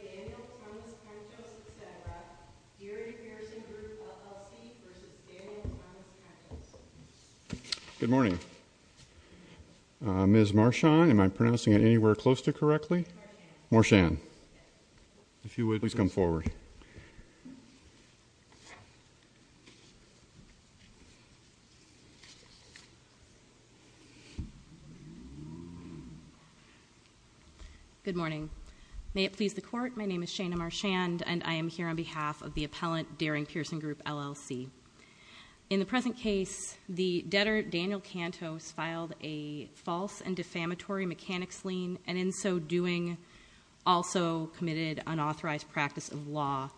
Daniel Thomas Kantos, etc. Dering Pierson Group, LLC v. Daniel Thomas Kantos Good morning. May it please the Court, my name is Shana Marchand and I am here on behalf of the appellant Dering Pierson Group, LLC. In the present case, the debtor Daniel Kantos filed a false and defamatory mechanics lien and in so doing also committed unauthorized practice of law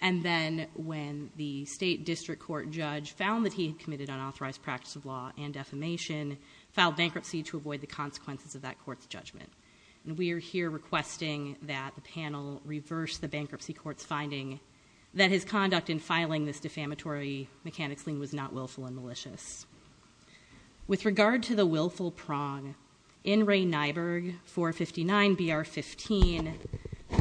and then when the state district court judge found that he had committed unauthorized practice of law and defamation, filed bankruptcy to avoid the consequences of that court's judgment. And we are here requesting that the panel reverse the bankruptcy court's finding that his conduct in filing this defamatory mechanics lien was not willful and malicious. With regard to the willful prong, N. Ray Nyberg, 459 B.R. 15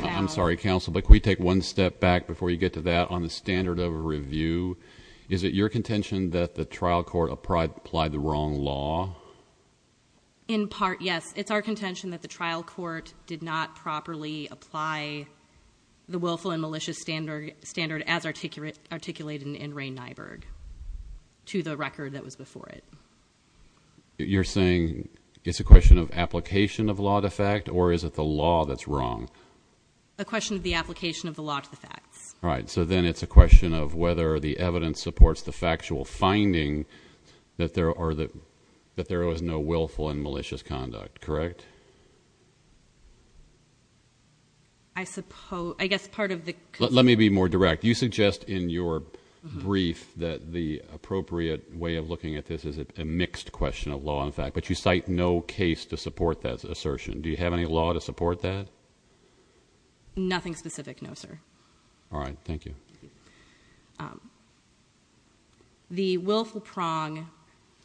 I'm sorry, counsel, but can we take one step back before you get to that on the standard of a review? Is it your contention that the trial court applied the wrong law? In part, yes. It's our contention that the trial court did not properly apply the willful and malicious standard as articulated in N. Ray Nyberg to the record that was before it. You're saying it's a question of application of law to fact or is it the law that's wrong? A question of the application of the law to the facts. Right. So then it's a question of whether the evidence supports the factual finding that there was no willful and malicious conduct, correct? I suppose, I guess part of the... Let me be more direct. You suggest in your brief that the appropriate way of looking at this is a mixed question of law and fact, but you cite no case to support that assertion. Do you have any law to support that? Nothing specific, no, sir. All right. Thank you. The willful prong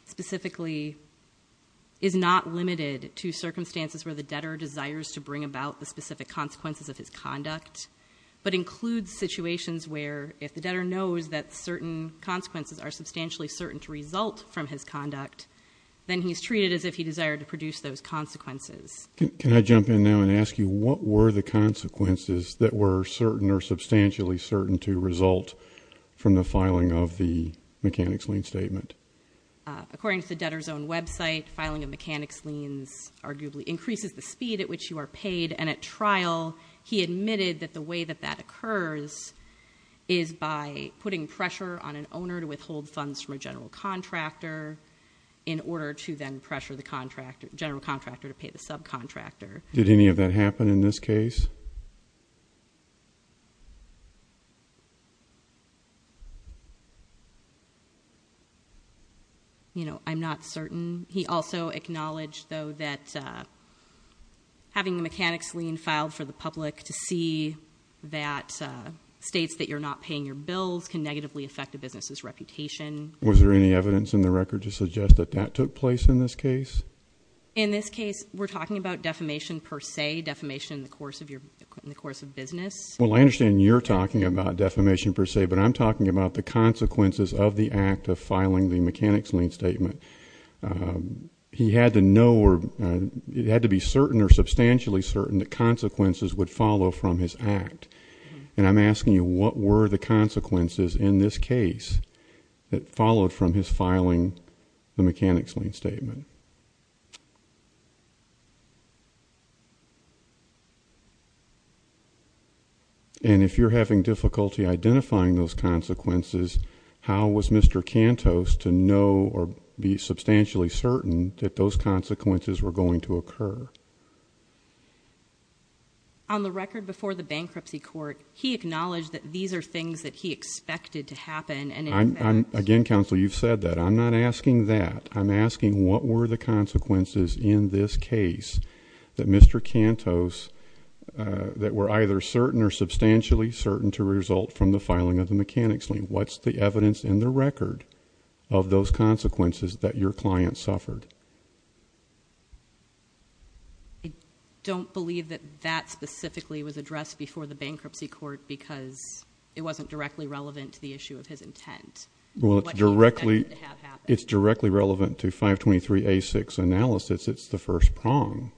specifically is not limited to circumstances where the debtor desires to bring about the specific consequences of his conduct, but includes situations where if the debtor knows that certain consequences are substantially certain to result from his conduct, then he's treated as if he desired to produce those consequences. Can I jump in now and ask you what were the consequences that were certain or substantially certain to result from the filing of the mechanics lien statement? According to the Debtor's Own website, filing of mechanics liens arguably increases the speed at which you are paid, and at trial he admitted that the way that that occurs is by putting pressure on an owner to withhold funds from a general contractor in order to then pressure the general contractor to pay the subcontractor. Did any of that happen in this case? You know, I'm not certain. He also acknowledged, though, that having the mechanics lien filed for the public to see that states that you're not paying your bills can negatively affect a business's reputation. Was there any evidence in the record to suggest that that took place in this case? In this case, we're talking about defamation per se, defamation in the course of business? Well, I understand you're talking about defamation per se, but I'm talking about the consequences of the act of filing the mechanics lien statement. He had to know or had to be certain or substantially certain that consequences would follow from his act, and I'm asking you what were the consequences? And if you're having difficulty identifying those consequences, how was Mr. Cantos to know or be substantially certain that those consequences were going to occur? On the record before the bankruptcy court, he acknowledged that these are things that he expected to happen, and in fact... in this case, that Mr. Cantos, that were either certain or substantially certain to result from the filing of the mechanics lien. What's the evidence in the record of those consequences that your client suffered? I don't believe that that specifically was addressed before the bankruptcy court because it wasn't directly relevant to the issue of his intent. Well, it's directly relevant to 523A6 analysis. It's the first prong.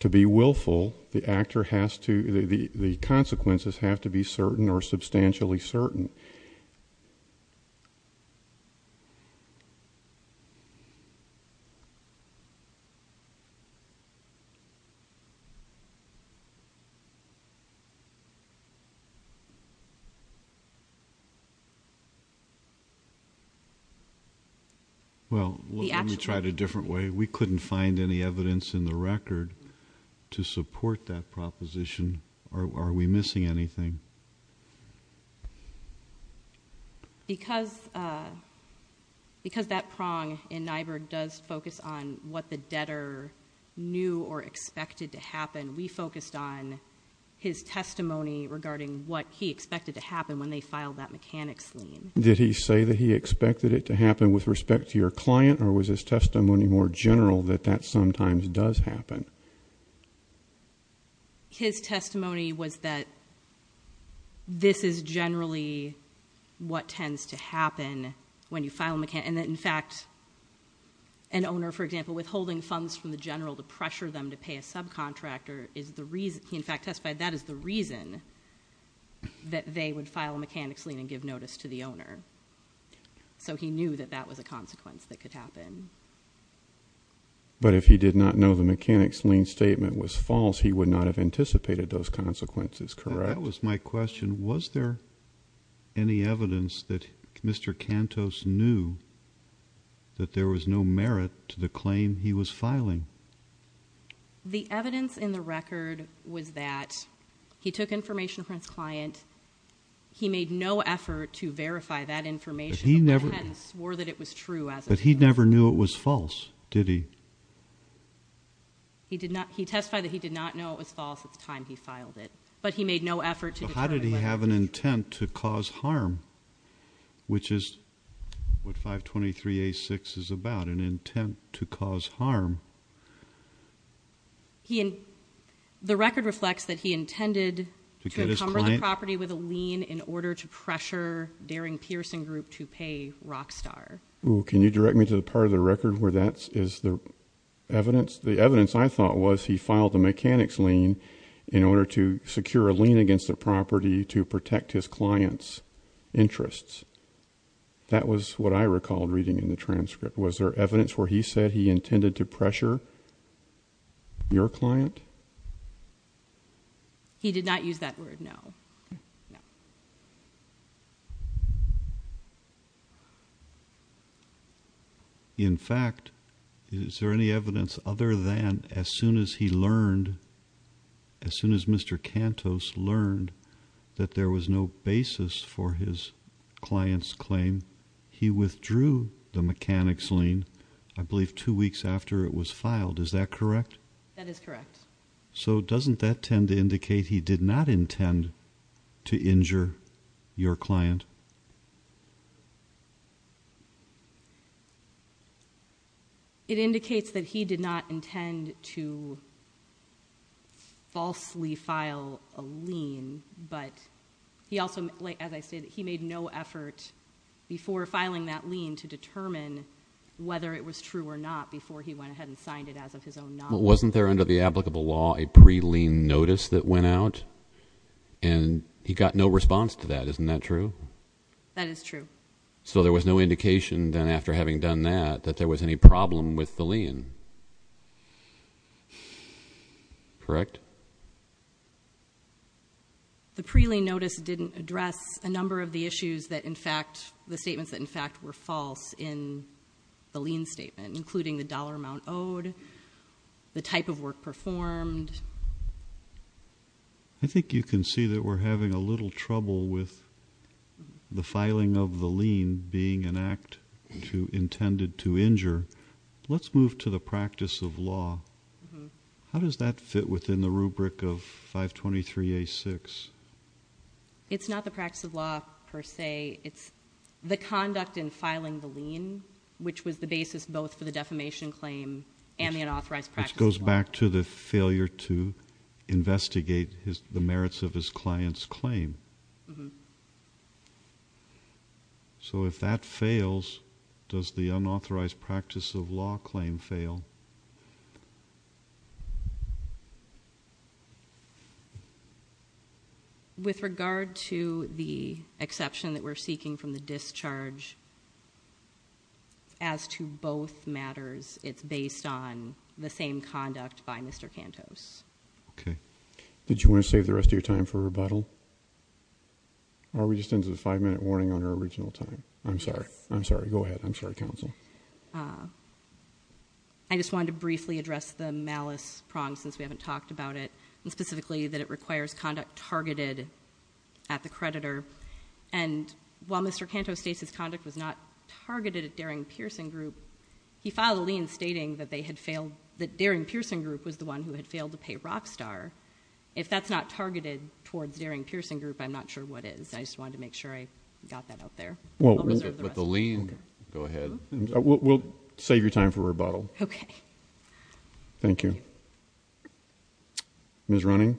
To be willful, the actor has to, the consequences have to be certain or substantially certain. Well, let me try it a different way. We couldn't find any evidence in the record to support that proposition. Are we missing anything? Because that prong in Nyberg does focus on what the debtor knew or expected to happen, we focused on his testimony regarding what he expected to happen when they filed that mechanics lien. Did he say that he expected it to happen with respect to your client, or was his testimony more general that that sometimes does happen? His testimony was that this is generally what tends to happen when you file a mechanic, and that in fact, an owner, for example, withholding funds from the general to pressure them to file a mechanics lien, that is the reason that they would file a mechanics lien and give notice to the owner. So he knew that that was a consequence that could happen. But if he did not know the mechanics lien statement was false, he would not have anticipated those consequences, correct? That was my question. Was there any evidence that Mr. Kantos knew that there was no merit to the claim he was filing? The evidence in the record was that he took information from his client, he made no effort to verify that information, but he hadn't swore that it was true as of yet. But he never knew it was false, did he? He testified that he did not know it was false at the time he filed it, but he made no effort to determine whether it was true. But how did he have an intent to cause harm, which is what 523A6 is about, an intent to cause harm? The record reflects that he intended to encumber the property with a lien in order to pressure Daring Pearson Group to pay Rockstar. Can you direct me to the part of the record where that is the evidence? The evidence I thought was he filed a mechanics lien in order to secure a lien against the property to protect his client's interests. That was what I recalled reading in the transcript. Was there evidence where he said he intended to pressure your client? He did not use that word, no. In fact, is there any evidence other than as soon as he learned, as soon as Mr. Cantos learned that there was no basis for his client's claim, he withdrew the mechanics lien and I believe two weeks after it was filed, is that correct? That is correct. So doesn't that tend to indicate he did not intend to injure your client? It indicates that he did not intend to falsely file a lien, but he also, as I said, he made no effort before filing that lien to determine whether it was true or not before he went ahead and signed it as of his own knowledge. Wasn't there under the applicable law a pre-lien notice that went out and he got no response to that, isn't that true? That is true. So there was no indication then after having done that that there was any problem with the lien, correct? The pre-lien notice didn't address a number of the issues that in fact, the statements that in fact were false in the lien statement, including the dollar amount owed, the type of work performed. I think you can see that we're having a little trouble with the filing of the lien being an act intended to injure. Let's move to the practice of law. How does that fit within the rubric of 523A6? It's not the practice of law per se, it's the conduct in filing the lien, which was the basis both for the defamation claim and the unauthorized practice of law. Which goes back to the failure to investigate the merits of his client's claim. So if that fails, does the unauthorized practice of law claim fail? With regard to the exception that we're seeking from the discharge as to both matters, it's based on the same conduct by Mr. Cantos. Did you want to save the rest of your time for rebuttal? Or are we just into the five minute warning on our original time? I'm sorry. I'm sorry. Go ahead. I'm sorry, counsel. I just wanted to briefly address the malice prong since we haven't talked about it, and specifically that it requires conduct targeted at the creditor. And while Mr. Cantos states his conduct was not targeted at Daring and Pearson Group, he filed a lien stating that they had failed, that Daring and Pearson Group was the one who had failed to pay Rockstar. If that's not targeted towards Daring and Pearson Group, I'm not sure what is. I just wanted to make sure I got that out there. With the lien, go ahead. We'll save your time for rebuttal. Okay. Thank you. Ms. Running?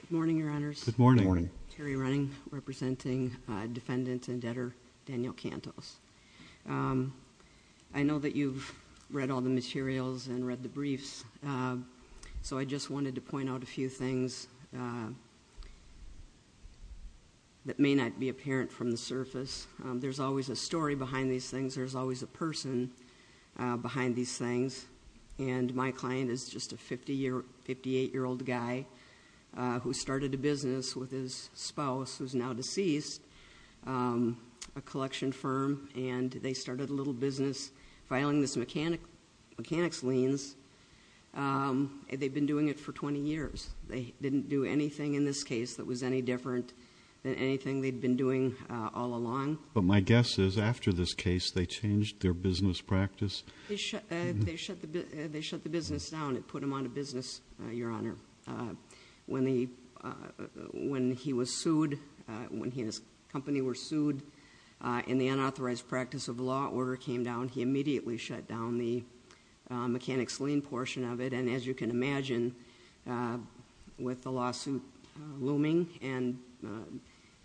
Good morning, Your Honors. Good morning. Terry Running, representing defendant and debtor Daniel Cantos. I know that you've read all the materials and read the briefs, so I just wanted to point out a few things that may not be apparent from the surface. There's always a story behind these things. There's always a person behind these things, and my client is just a 58-year-old guy who a little business filing this mechanic's liens. They've been doing it for 20 years. They didn't do anything in this case that was any different than anything they'd been doing all along. But my guess is after this case, they changed their business practice? They shut the business down. It put them out of business, Your Honor. When he was sued, when he and his company were sued and the unauthorized practice of the law order came down, he immediately shut down the mechanic's lien portion of it. And as you can imagine, with the lawsuit looming and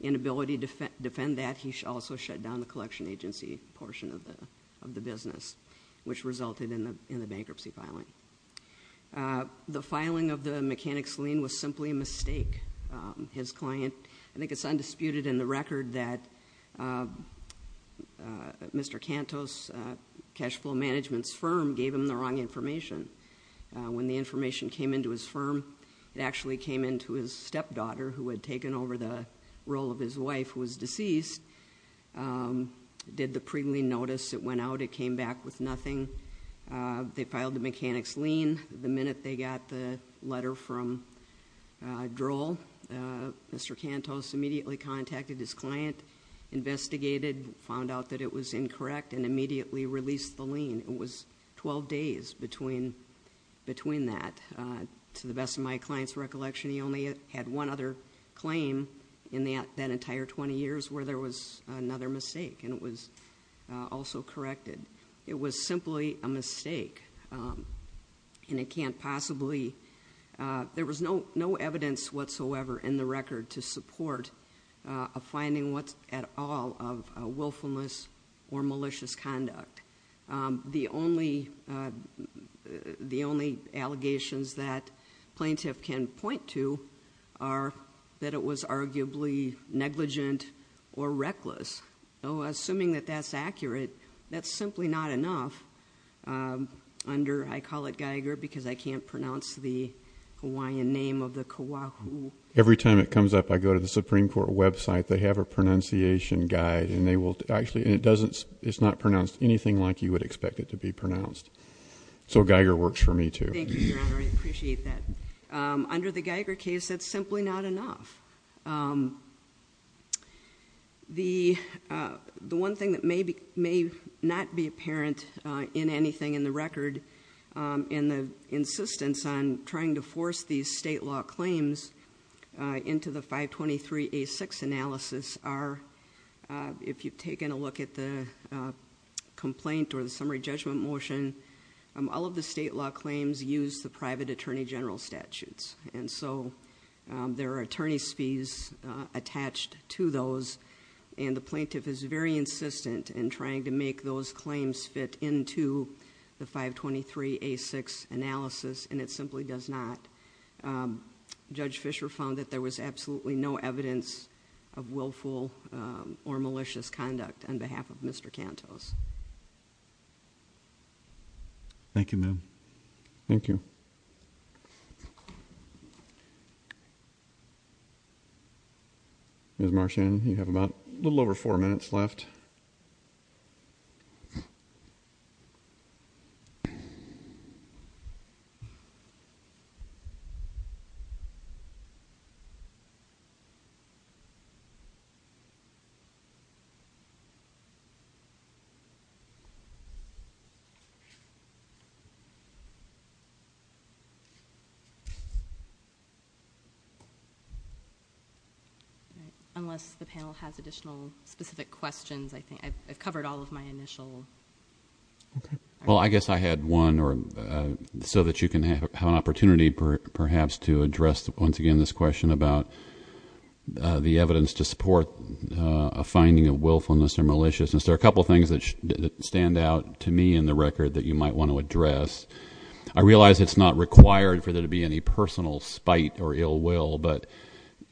inability to defend that, he also shut down the collection agency portion of the business, which resulted in the bankruptcy filing. The filing of the mechanic's lien was simply a mistake. His client, I think it's undisputed in the record that Mr. Cantos, Cash Flow Management's firm, gave him the wrong information. When the information came into his firm, it actually came into his stepdaughter, who had taken over the role of his wife, who was deceased. Did the pre-lien notice. It went out. It came back with nothing. They filed the mechanic's lien. The minute they got the letter from Drohl, Mr. Cantos immediately contacted his client, investigated, found out that it was incorrect, and immediately released the lien. It was 12 days between that. To the best of my client's recollection, he only had one other claim in that entire 20 years where there was another mistake, and it was also corrected. It was simply a mistake, and it can't possibly... There was no evidence whatsoever in the record to support a finding at all of willfulness or malicious conduct. The only allegations that plaintiff can point to are that it was arguably negligent or reckless. Assuming that that's accurate, that's simply not enough under... I call it Geiger because I can't pronounce the Hawaiian name of the Kaua'u. Every time it comes up, I go to the Supreme Court website. They have a pronunciation guide, and it's not pronounced anything like you would expect it to be pronounced, so Geiger works for me too. Thank you, Your Honor. I appreciate that. Under the Geiger case, that's simply not enough. The one thing that may not be apparent in anything in the record in the insistence on trying to force these state law claims into the 523A6 analysis are, if you've taken a look at the complaint or the summary judgment motion, all of the state law claims use the private attorney general statutes. And so, there are attorney's fees attached to those, and the plaintiff is very insistent in trying to make those claims fit into the 523A6 analysis, and it simply does not. Judge Fischer found that there was absolutely no evidence of willful or malicious conduct on behalf of Mr. Kantos. Thank you, ma'am. Thank you. Ms. Marchand, you have about a little over four minutes left. Unless the panel has additional specific questions, I think I've covered all of my initial... Okay. Well, I guess I had one, so that you can have an opportunity, perhaps, to address once again this question about the evidence to support a finding of willfulness or maliciousness. There are a couple of things that stand out to me in the record that you might want to address. I realize it's not required for there to be any personal spite or ill will, but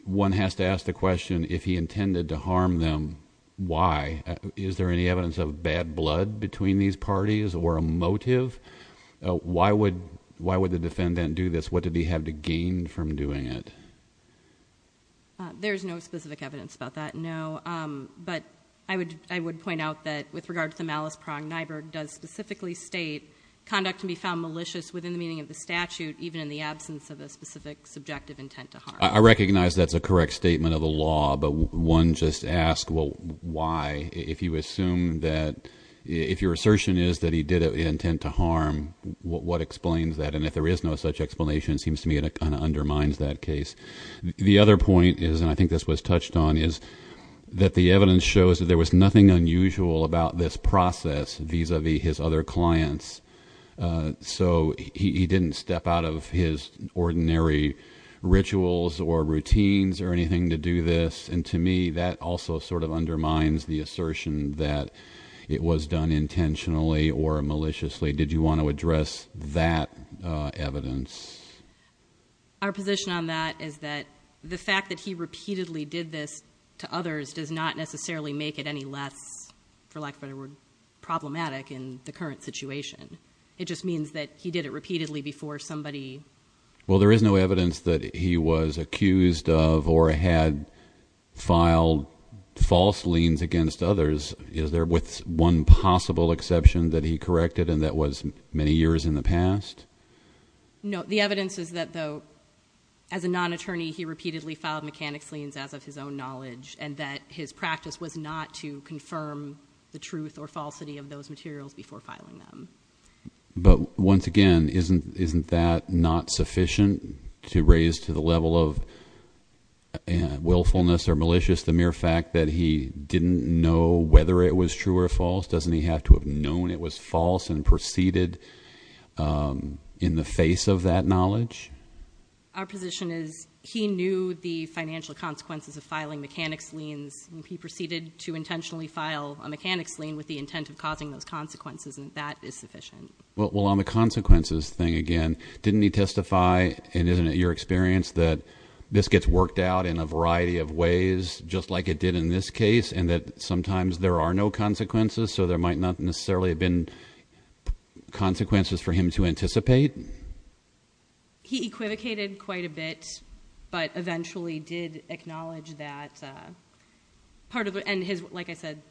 one has to ask the question, if he intended to harm them, why? Is there any evidence of bad blood between these parties or a motive? Why would the defendant do this? What did he have to gain from doing it? There's no specific evidence about that, no. But I would point out that, with regard to the malice prong, Nyberg does specifically state conduct can be found malicious within the meaning of the statute, even in the absence of a specific subjective intent to harm. I recognize that's a correct statement of the law, but one just asks, well, why? If you assume that... If your assertion is that he did it with the intent to harm, what explains that? And if there is no such explanation, it seems to me it kind of undermines that case. The other point is, and I think this was touched on, is that the evidence shows that there was a lack of compliance. So he didn't step out of his ordinary rituals or routines or anything to do this, and to me, that also sort of undermines the assertion that it was done intentionally or maliciously. Did you want to address that evidence? Our position on that is that the fact that he repeatedly did this to others does not necessarily make it any less, for lack of a better word, problematic in the current situation. It just means that he did it repeatedly before somebody... Well, there is no evidence that he was accused of or had filed false liens against others. Is there one possible exception that he corrected, and that was many years in the past? No. The evidence is that, though, as a non-attorney, he repeatedly filed mechanics liens, as of his own knowledge, and that his practice was not to confirm the truth or falsity of those materials before filing them. But once again, isn't that not sufficient to raise to the level of willfulness or malicious the mere fact that he didn't know whether it was true or false? Doesn't he have to have known it was false and proceeded in the face of that knowledge? Our position is he knew the financial consequences of filing mechanics liens, and he proceeded to intentionally file a mechanics lien with the intent of causing those consequences, and that is sufficient. Well, on the consequences thing again, didn't he testify, and isn't it your experience, that this gets worked out in a variety of ways, just like it did in this case, and that sometimes there are no consequences, so there might not necessarily have been consequences for him to anticipate? He equivocated quite a bit, but eventually did acknowledge that part of it, and like I said,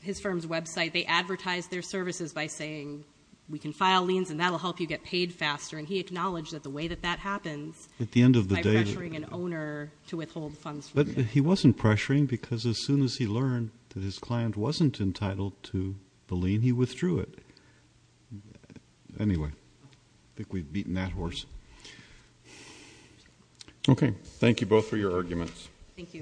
his firm's website, they advertised their services by saying, we can file liens and that will help you get paid faster, and he acknowledged that the way that that happens is by pressuring an owner to withhold funds. But he wasn't pressuring because as soon as he learned that his client wasn't entitled to the lien, he withdrew it. Anyway, I think we've beaten that horse. Okay, thank you both for your arguments. Thank you.